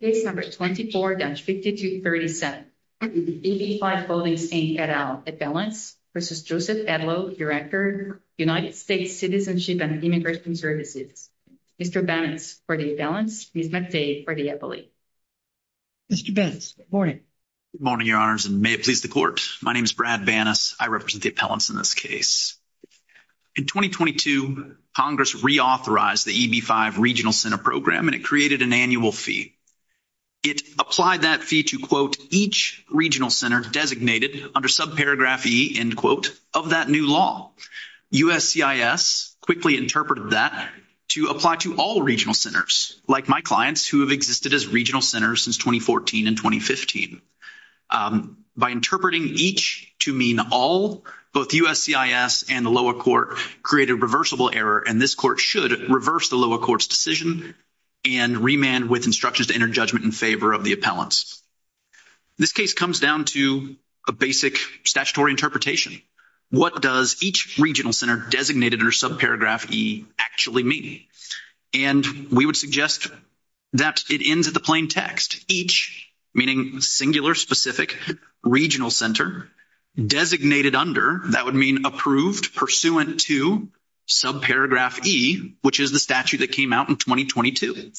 Case number 24-50237. EB5 Holdings Inc. et al. Appellants v. Joseph Edlow, Director, United States Citizenship and Immigration Services. Mr. Banas for the appellants. Mr. Banas, good morning. Good morning, Your Honors, and may it please the Court. My name is Brad Banas. I represent the appellants in this case. In 2022, Congress reauthorized the EB5 Regional Center Program, and it created an annual fee. It applied that fee to, quote, each regional center designated under subparagraph E, end quote, of that new law. USCIS quickly interpreted that to apply to all regional centers, like my clients who have existed as regional centers since 2014 and 2015. By interpreting each to mean all, both USCIS and the lower court created a reversible error, and this court should reverse the lower court's decision and remand with instructions to enter judgment in favor of the appellants. This case comes down to a basic statutory interpretation. What does each regional center designated under subparagraph E actually mean? And we would suggest that it ends at the plain text. Each, meaning singular, specific, regional center designated under, that would approved pursuant to subparagraph E, which is the statute that came out in 2022.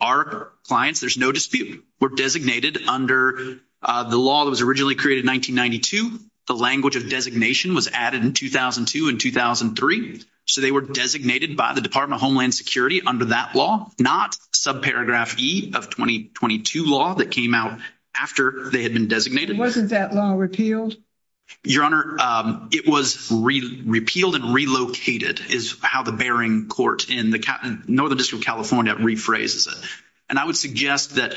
Our clients, there's no dispute, were designated under the law that was originally created in 1992. The language of designation was added in 2002 and 2003, so they were designated by the Department of Homeland Security under that law, not subparagraph E of 2022 law that came out after they had been designated. Wasn't that law repealed? Your Honor, it was repealed and relocated is how the Bering Court in the Northern District of California rephrases it, and I would suggest that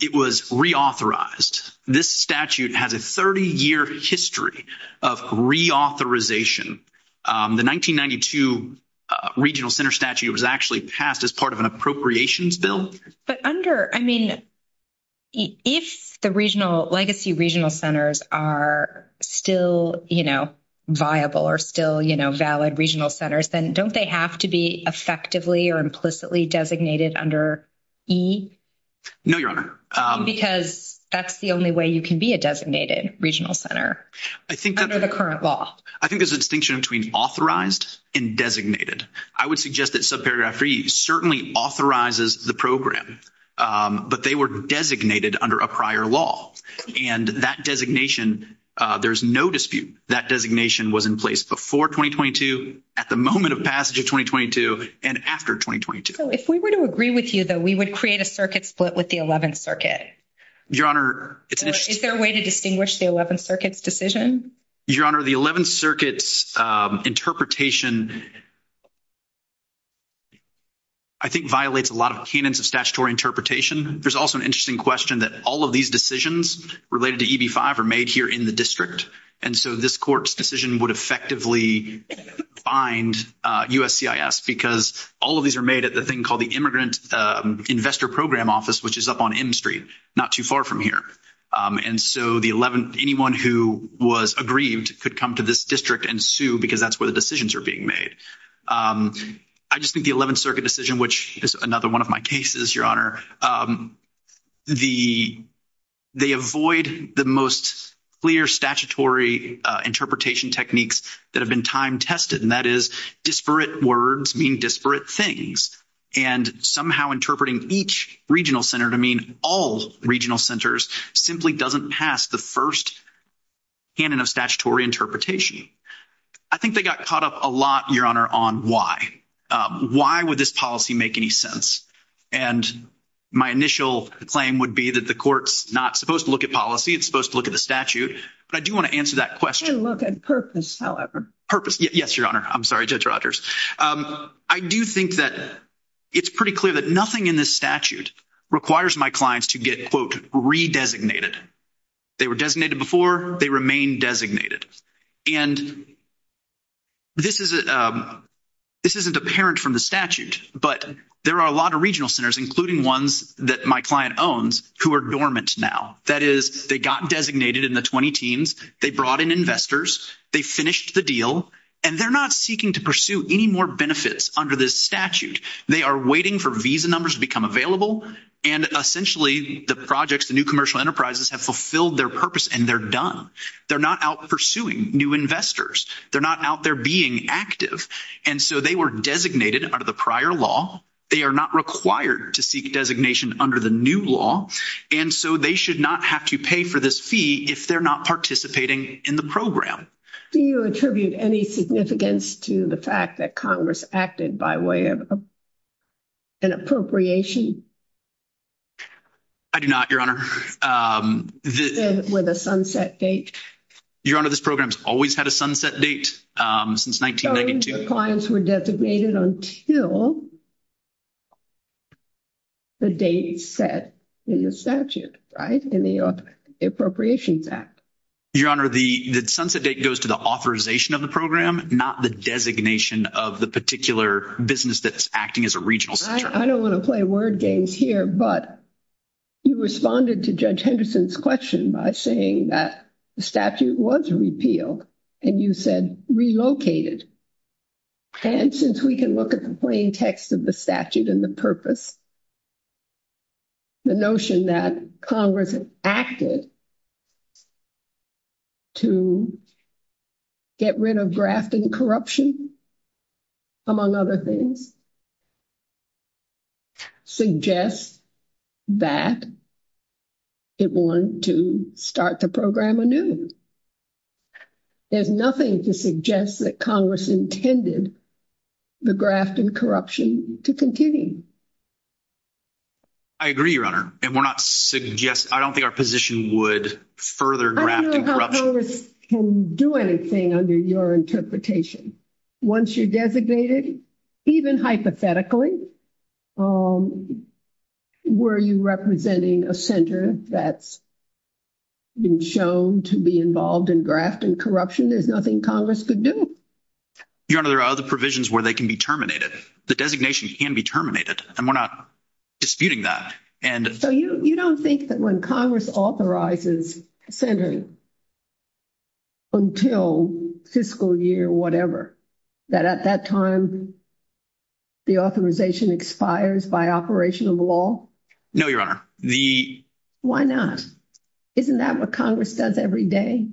it was reauthorized. This statute has a 30-year history of reauthorization. The 1992 regional center statute was actually passed as part of an appropriations bill. But under, I mean, if the regional, legacy regional centers are still, you know, viable or still, you know, valid regional centers, then don't they have to be effectively or implicitly designated under E? No, Your Honor. Because that's the only way you can be a designated regional center under the current law. I think there's a distinction between authorized and designated. I would suggest that subparagraph E certainly authorizes the program, but they were designated under a prior law. And that designation, there's no dispute. That designation was in place before 2022, at the moment of passage of 2022, and after 2022. So if we were to agree with you, though, we would create a circuit split with the 11th Circuit? Your Honor, it's an interesting... Is there a way to distinguish the 11th Circuit's decision? Your Honor, the 11th Circuit's interpretation, I think, violates a lot of canons of statutory interpretation. There's also an interesting question that all of these decisions related to EB-5 are made here in the district. And so, this court's decision would effectively bind USCIS, because all of these are made at the thing called the Immigrant Investor Program Office, which is up on M Street, not too far from here. And so, anyone who was aggrieved could come to this district and sue, because that's where the decisions are being made. I just think the 11th Circuit decision, which is another one of my cases, Your Honor, they avoid the most clear statutory interpretation techniques that have been time-tested, and that is disparate words mean disparate things. And somehow interpreting each regional center to mean all regional centers simply doesn't pass the first canon of statutory interpretation. I think they got caught up a lot, Your Honor, on why. Why would this policy make any sense? And my initial claim would be that the court's not supposed to look at policy, it's supposed to look at the statute. But I do want to answer that question. And look at purpose, however. Purpose. Yes, Your Honor. I'm sorry, Judge Rodgers. I do think that it's pretty clear that nothing in this statute requires my clients to get, quote, re-designated. They were designated before, they remain designated. And this isn't apparent from the statute, but there are a lot of regional centers, including ones that my client owns, who are dormant now. That is, they got designated in the 20 teams, they brought in investors, they finished the deal, and they're not seeking to pursue any more benefits under this statute. They are waiting for visa numbers to become available, and essentially the projects, the new commercial enterprises, have fulfilled their purpose and they're done. They're not out pursuing new investors. They're not out there being active. And so they were designated under the prior law. They are not required to seek designation under the new law. And so they should not have to pay for this fee if they're not participating in the program. Do you attribute any significance to the fact that Congress acted by way of an appropriation? I do not, Your Honor. With a sunset date? Your Honor, this program's always had a sunset date since 1992. So the clients were designated until the date set in the statute, right, in the Appropriations Act. Your Honor, the sunset date goes to the authorization of the program, not the designation of the particular business that's acting as a regional center. I don't want to play word games here, but you responded to Judge Henderson's question by saying that the statute was repealed, and you said relocated. And since we can look at the plain text of the statute and the purpose, the notion that Congress acted to get rid of graft and corruption, among other things, suggests that it wanted to start the program anew. There's nothing to suggest that Congress intended the graft and corruption to continue. I agree, Your Honor. And we're not suggesting, I don't think our position would further graft and corruption. I don't know how Congress can do anything under your interpretation. Once you're designated, even hypothetically, were you representing a center that's been shown to be involved in graft and corruption? There's other provisions where they can be terminated. The designation can be terminated, and we're not disputing that. So you don't think that when Congress authorizes centering until fiscal year whatever, that at that time the authorization expires by operation of law? No, Your Honor. Why not? Isn't that what Congress does every day?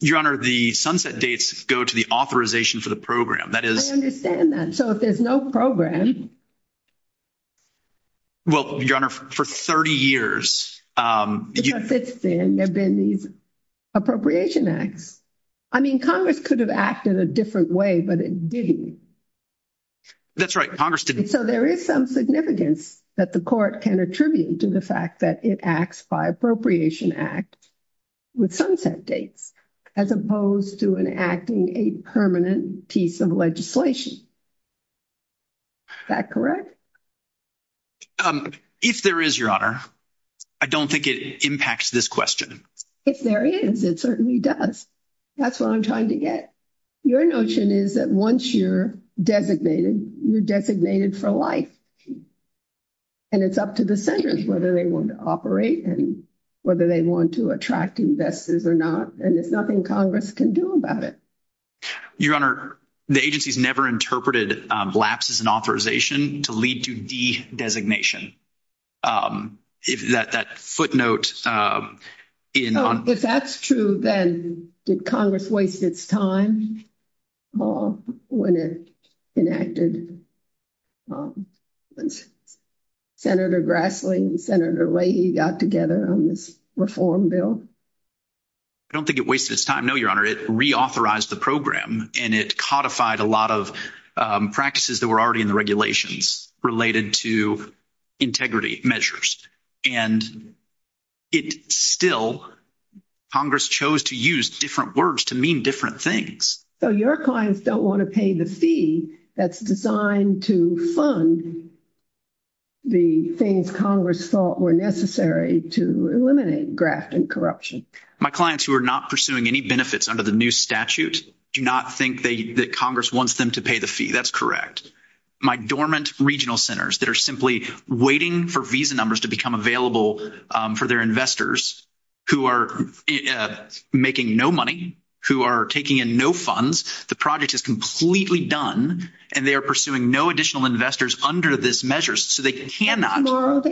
Your Honor, the sunset dates go to the authorization for the program. I understand that. So if there's no program... Well, Your Honor, for 30 years... Because since then, there have been these appropriation acts. I mean, Congress could have acted a different way, but it didn't. That's right, Congress didn't. So there is some significance that the court can attribute to the that it acts by appropriation act with sunset dates as opposed to enacting a permanent piece of legislation. Is that correct? If there is, Your Honor. I don't think it impacts this question. If there is, it certainly does. That's what I'm trying to get. Your notion is that once you're designated, you're designated for life. And it's up to the senators whether they want to operate and whether they want to attract investors or not. And there's nothing Congress can do about it. Your Honor, the agency's never interpreted lapses in authorization to lead to de-designation. If that footnote... If that's true, then did Congress waste its time all when it enacted... Senator Grassley and Senator Leahy got together on this reform bill? I don't think it wasted its time, no, Your Honor. It reauthorized the program and it codified a lot of practices that were already in the regulations related to integrity measures. And it still... Congress chose to use this to do many different things. So your clients don't want to pay the fee that's designed to fund the things Congress thought were necessary to eliminate graft and corruption? My clients who are not pursuing any benefits under the new statute do not think that Congress wants them to pay the fee. That's correct. My dormant regional centers that are simply waiting for visa numbers to become available for their investors who are making no money, who are taking in no funds, the project is completely done and they are pursuing no additional investors under this measure. So they cannot...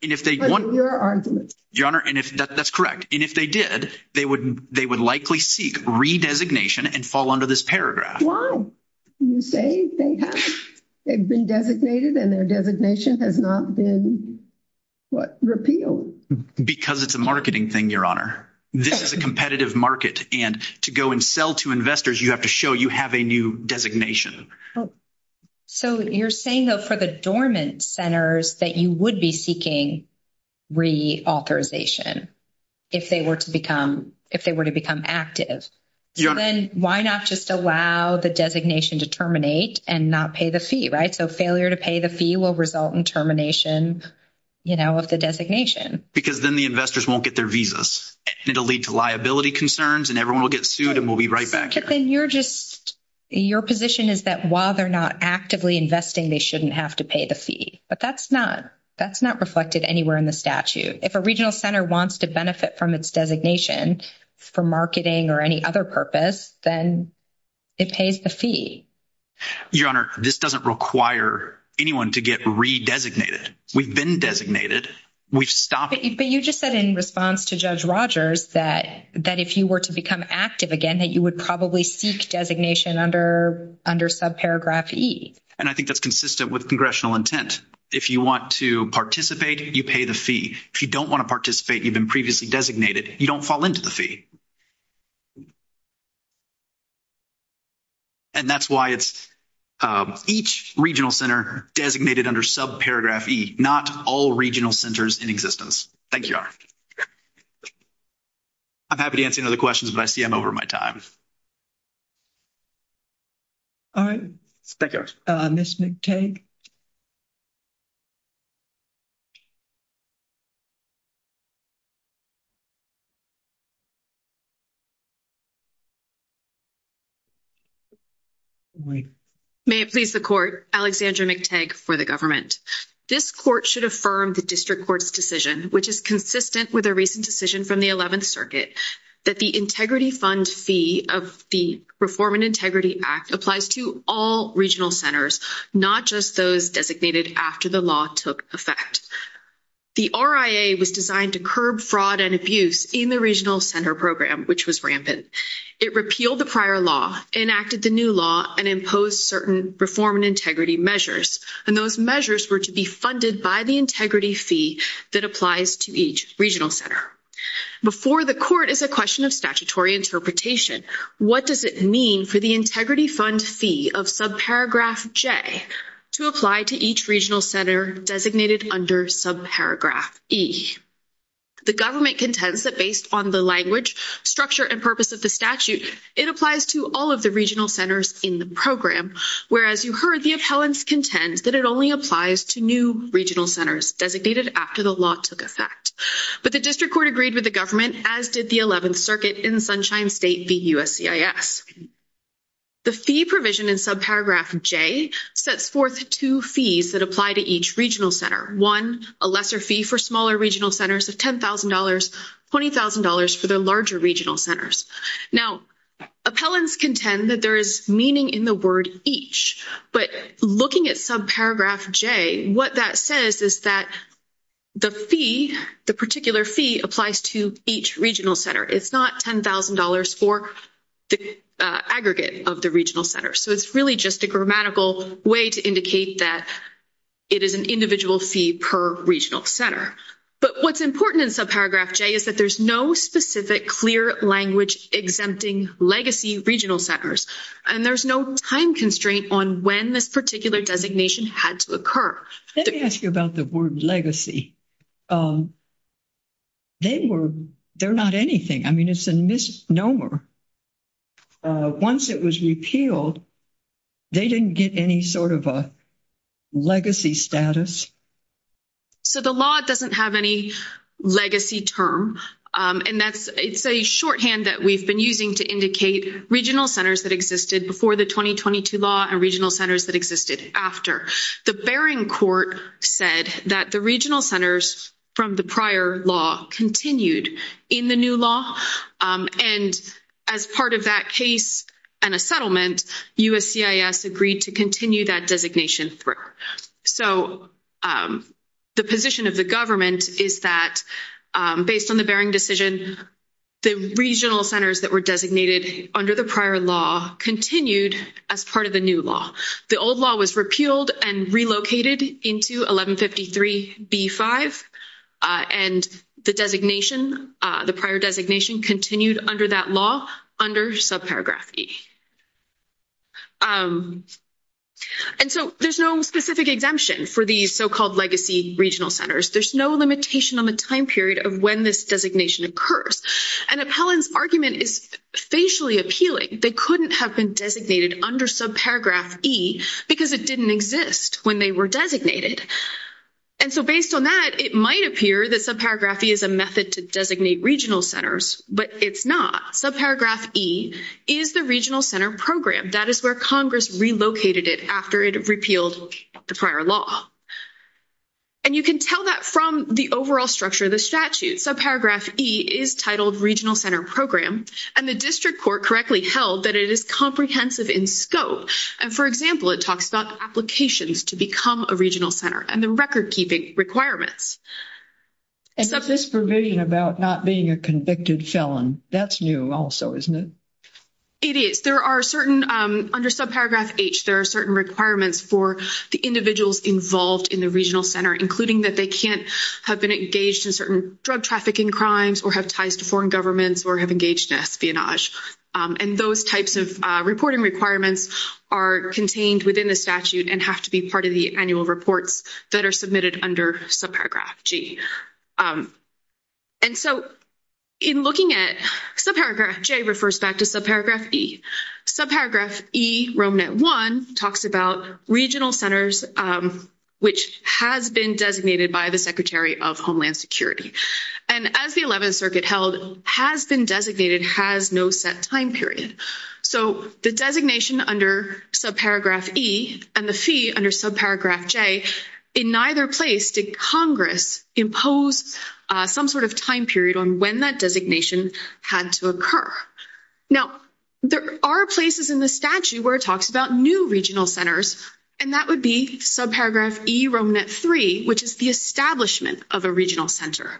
If they want... Your Honor, that's correct. And if they did, they would likely seek re-designation and fall under this paragraph. Why? You say they have. They've been designated and their designation has not been, what, repealed. Because it's a marketing thing, Your Honor. This is a competitive market. And to go and sell to investors, you have to show you have a new designation. So you're saying, though, for the dormant centers that you would be seeking reauthorization if they were to become active. So then why not just allow the designation to terminate and not pay the fee, right? So failure to pay the fee will result in termination of the designation. Because then the investors won't get their visas. It'll lead to liability concerns and everyone will get sued and we'll be right back here. Then you're just... Your position is that while they're not actively investing, they shouldn't have to pay the fee. But that's not reflected anywhere in the statute. If a regional center wants to benefit from its designation for marketing or any other purpose, then it pays the fee. Your Honor, this doesn't require anyone to get re-designated. We've been designated. We've stopped... But you just said in response to Judge Rogers that if you were to become active again, that you would probably seek designation under subparagraph E. And I think that's consistent with congressional intent. If you want to participate, you pay the fee. If you don't want to participate, you've been previously designated, you don't fall into the fee. And that's why it's each regional center designated under subparagraph E, not all regional centers in existence. Thank you, Your Honor. I'm happy to answer any other questions, but I see I'm over my time. All right. Thank you, Your Honor. Ms. McTagg? May it please the Court, Alexandra McTagg for the government. This Court should affirm the District Court's decision, which is consistent with a recent decision from the 11th Circuit, that the integrity fund fee of the Reform and Integrity Act applies to all regional centers, not just those designated after the law took effect. The RIA was designed to curb fraud and abuse in the regional center program, which was rampant. It repealed the prior law, enacted the new law, and imposed certain reform and integrity measures. And those measures were to be funded by the integrity fee that applies to each regional center. Before the Court is a question of statutory interpretation. What does it mean for the integrity fund fee of subparagraph J to apply to each regional center designated under subparagraph E? The government contends that based on the language, structure, and purpose of the statute, it applies to all of the regional centers in the program, whereas you heard the appellants contend that it only applies to new regional centers designated after the law took effect. But the District Court agreed with the government, as did the 11th Circuit in Sunshine State v. USCIS. The fee provision in subparagraph J sets forth two fees that apply to each regional center. One, a lesser fee for smaller regional centers of $10,000, $20,000 for their larger regional centers. Now, appellants contend that there is meaning in the word each. But looking at subparagraph J, what that says is that the fee, the particular fee, applies to each regional center. It's not $10,000 for the aggregate of the regional center. So it's really just a grammatical way to indicate that it is an individual fee per regional center. But what's important in subparagraph J is that there's no specific clear language exempting legacy regional centers. And there's no time constraint on when this particular designation had to occur. Let me ask you about the word legacy. They were, they're not anything. I mean, it's a misnomer. Once it was repealed, they didn't get any sort of a legacy status. So the law doesn't have any legacy term. And that's, it's a shorthand that we've been using to indicate regional centers that existed before the 2022 law and regional centers that existed after. The Bering Court said that the regional centers from the prior law continued in the new law. And as part of that case and a settlement, USCIS agreed to continue that designation through. So the position of the government is that based on the Bering decision, the regional centers that were designated under the prior law continued as part of the new law. The old law was repealed and relocated into 1153 B-5. And the designation, the prior designation continued under that law under subparagraph E. And so there's no specific exemption for these so-called legacy regional centers. There's no limitation on the time period of when this designation occurs. And Appellant's argument is facially appealing. They couldn't have been designated under subparagraph E because it didn't exist when they were designated. And so based on that, it might appear that subparagraph E is a method to designate regional centers, but it's not. Subparagraph E is the regional center that is where Congress relocated it after it repealed the prior law. And you can tell that from the overall structure of the statute. Subparagraph E is titled regional center program. And the district court correctly held that it is comprehensive in scope. And for example, it talks about applications to become a regional center and the record keeping requirements. And this provision about not being a convicted felon, that's new also, isn't it? It is. There are certain under subparagraph H, there are certain requirements for the individuals involved in the regional center, including that they can't have been engaged in certain drug trafficking crimes or have ties to foreign governments or have engaged in espionage. And those types of reporting requirements are contained within the statute and have to be part of the annual reports that are submitted under subparagraph G. And so in looking at subparagraph J refers back to subparagraph E. Subparagraph E, RomeNet 1, talks about regional centers, which has been designated by the Secretary of Homeland Security. And as the 11th Circuit held, has been designated, has no set time period. So the designation under subparagraph E and the fee under subparagraph J, in neither place did Congress impose some sort of time period on when that had to occur. Now, there are places in the statute where it talks about new regional centers, and that would be subparagraph E, RomeNet 3, which is the establishment of a regional center.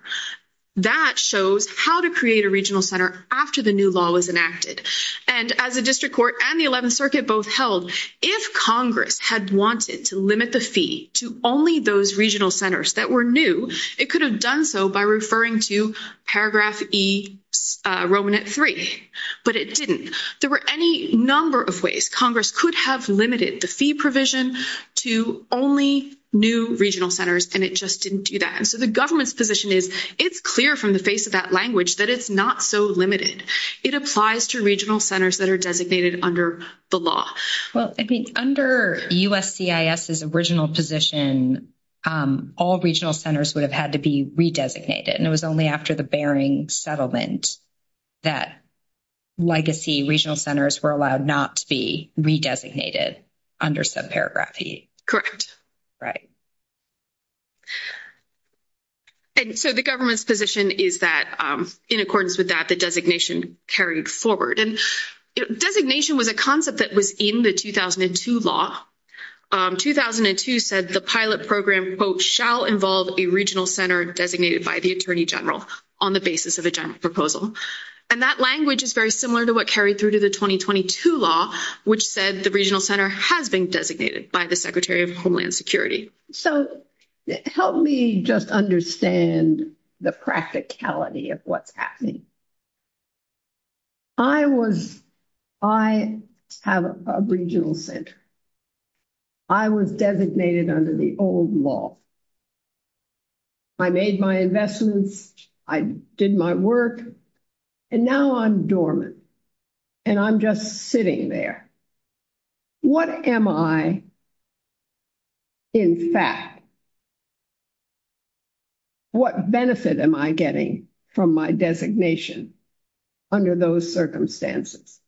That shows how to create a regional center after the new law was enacted. And as the District Court and the 11th Circuit both held, if Congress had wanted to limit the fee to only those regional centers that were new, it could have done so by referring to paragraph E, RomeNet 3. But it didn't. There were any number of ways Congress could have limited the fee provision to only new regional centers, and it just didn't do that. And so the government's position is, it's clear from the face of that language that it's not so limited. It applies to regional centers that are under the law. Well, I think under USCIS's original position, all regional centers would have had to be re-designated, and it was only after the Bering Settlement that legacy regional centers were allowed not to be re-designated under subparagraph E. Correct. Right. And so the government's position is that in accordance with that, the designation carried forward. And designation was a concept that was in the 2002 law. 2002 said the pilot program, quote, shall involve a regional center designated by the Attorney General on the basis of a general proposal. And that language is very similar to what carried through to the 2022 law, which said the regional center has been designated by the Secretary of Homeland Security. So help me just understand the practicality of what's happening. I have a regional center. I was designated under the old law. I made my investments, I did my work, and now I'm dormant, and I'm just sitting there. What am I, in fact, what benefit am I getting from my designation under those circumstances?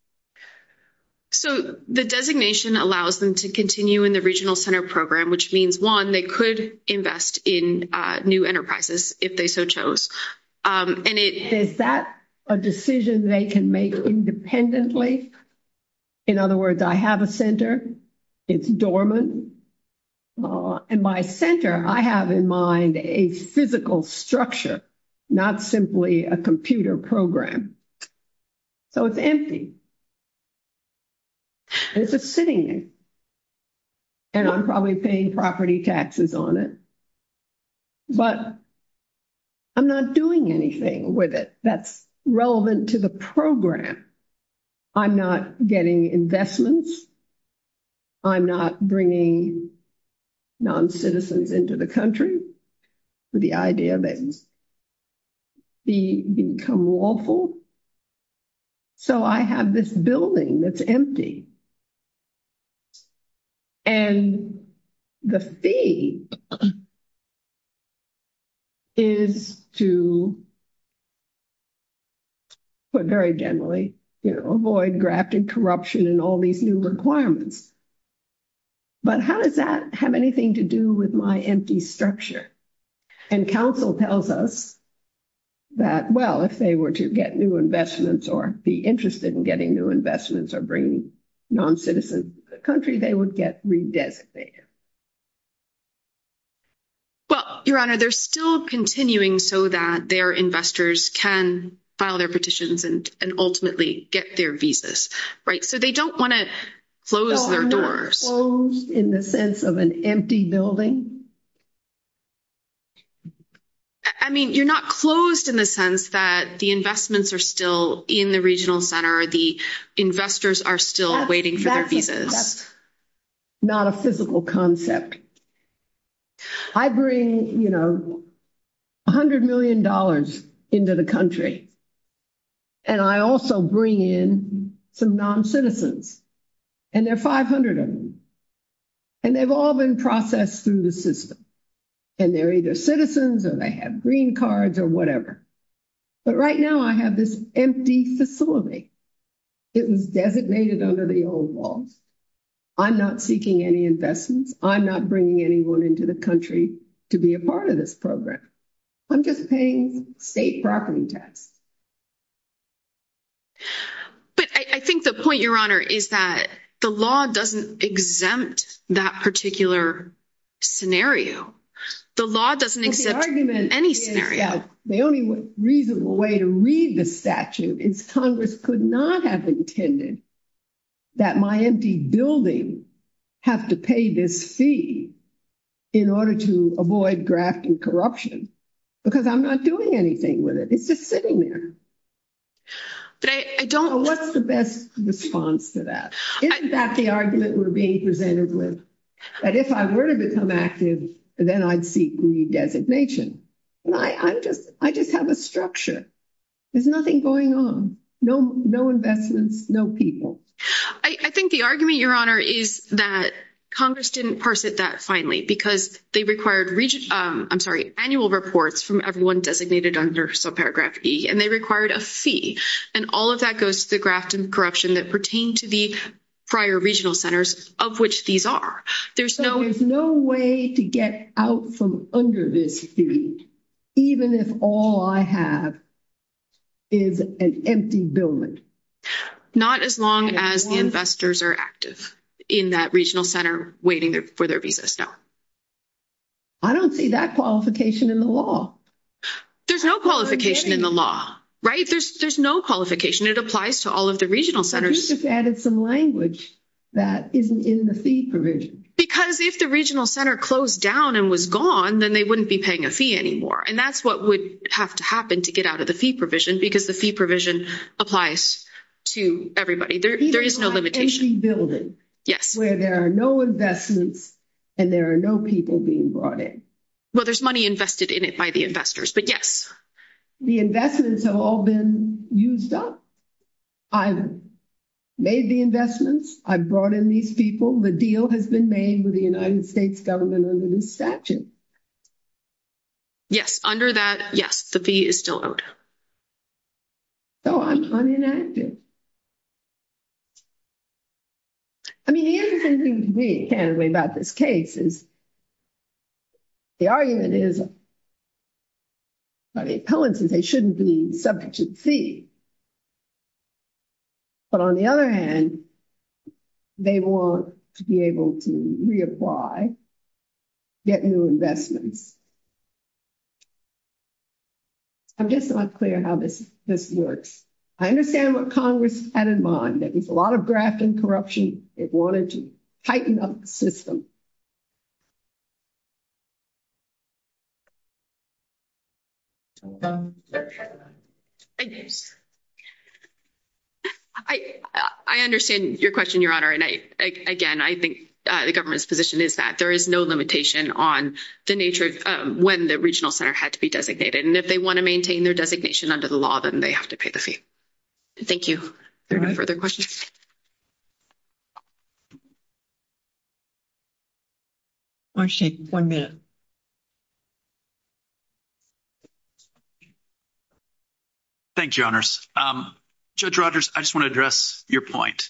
So the designation allows them to continue in the regional center program, which means, one, they could invest in new enterprises if they so chose. And is that a decision they can make independently? In other words, I have a center. It's dormant. In my center, I have in mind a physical structure, not simply a computer program. So it's empty. It's just sitting there. And I'm probably paying property taxes on it. But I'm not doing anything with it that's relevant to the program. I'm not getting investments. I'm not bringing non-citizens into the country with the idea that it's become lawful. So I have this building that's empty. And the fee is to, but very generally, you know, avoid grafted corruption and all these new requirements. But how does that have anything to do with my empty structure? And council tells us that, well, if they were to get new investments or be interested in getting new investments or bring non-citizen country, they would get re-designated. Well, Your Honor, they're still continuing so that their investors can file their petitions and ultimately get their visas, right? So they don't want to close their doors. So I'm not closed in the sense of an empty building? I mean, you're not closed in the sense that the investments are still in the regional center or the investors are still waiting for their visas. That's not a physical concept. I bring, you know, a hundred million dollars into the country. And I also bring in some non-citizens. And there are 500 of them. And they've all been processed through the system. And they're either citizens or they have green cards or whatever. But right now I have this empty facility. It was designated under the old laws. I'm not seeking any investments. I'm not bringing anyone into the country to be a part of this program. I'm just paying state property tax. But I think the point, Your Honor, is that the law doesn't exempt that particular scenario. The law doesn't exempt any scenario. Well, the argument is that the only reasonable way to read the statute is Congress could not have intended that my empty building have to pay this fee in order to avoid graft and corruption. Because I'm not doing anything with it. It's just sitting there. What's the best response to that? Isn't that the argument we're being presented with? That if I were to become active, then I'd seek redesignation. I just have a structure. There's nothing going on. No investments, no people. I think the argument, Your Honor, is that Congress didn't parse it that because they required annual reports from everyone designated under subparagraph E, and they required a fee. All of that goes to the graft and corruption that pertain to the prior regional centers of which these are. There's no way to get out from under this fee, even if all I have is an empty building. Not as long as the investors are active in that regional center waiting for their visas, no. I don't see that qualification in the law. There's no qualification in the law, right? There's no qualification. It applies to all of the regional centers. You just added some language that isn't in the fee provision. Because if the regional center closed down and was gone, then they wouldn't be paying a fee anymore. And that's what would have to happen to get out of the fee provision because the fee to everybody. There is no limitation. An empty building where there are no investments and there are no people being brought in. Well, there's money invested in it by the investors, but yes. The investments have all been used up. I've made the investments. I've brought in these people. The deal has been made with the United States government under this statute. Yes, under that, yes, the fee is still owed. So, I'm unenacted. I mean, the interesting thing to me, candidly, about this case is the argument is by the appellants is they shouldn't be subject to the fee. But on the other hand, they want to be able to reacquire, get new investments. I'm just not clear how this works. I understand what Congress had in mind, that there's a lot of graft and corruption. It wanted to tighten up the system. I understand your question, Your Honor. And again, I think the government's position is that there is no limitation on the nature of when the regional center had to be designated. And if they want to maintain their designation under the law, then they have to pay the fee. Thank you. Are there no further questions? Marsha, one minute. Thank you, Your Honors. Judge Rogers, I just want to address your point.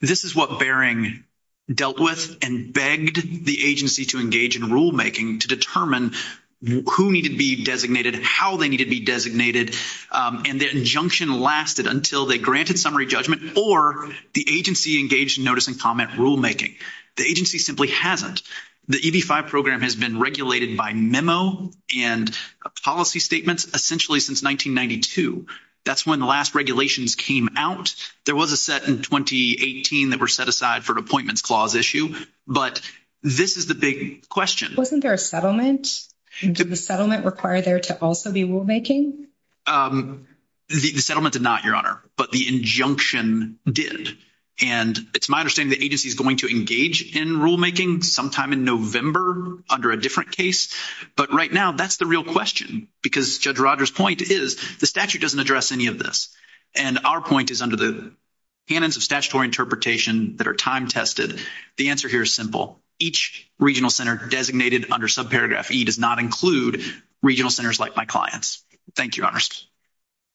This is what Bering dealt with and begged the agency to engage in rulemaking to determine who needed to be designated, how they needed to be designated. And the injunction lasted until they granted summary judgment or the agency engaged in notice and comment rulemaking. The agency simply hasn't. The EB-5 program has been regulated by memo and policy statements essentially since 1992. That's when the last regulations came out. There was a set in 2018 that were set aside for an appointments clause issue, but this is the big question. Wasn't there a settlement? Did the settlement require there to also be rulemaking? The settlement did not, Your Honor, but the injunction did. And it's my understanding the agency is going to engage in rulemaking sometime in November under a different case. But right now, that's the real question, because Judge Rogers' point is the statute doesn't address any of this. And our point is under the canons of statutory interpretation that are time-tested. The answer here is simple. Each regional center designated under subparagraph E does not include regional centers like my clients. Thank you, Your Honors.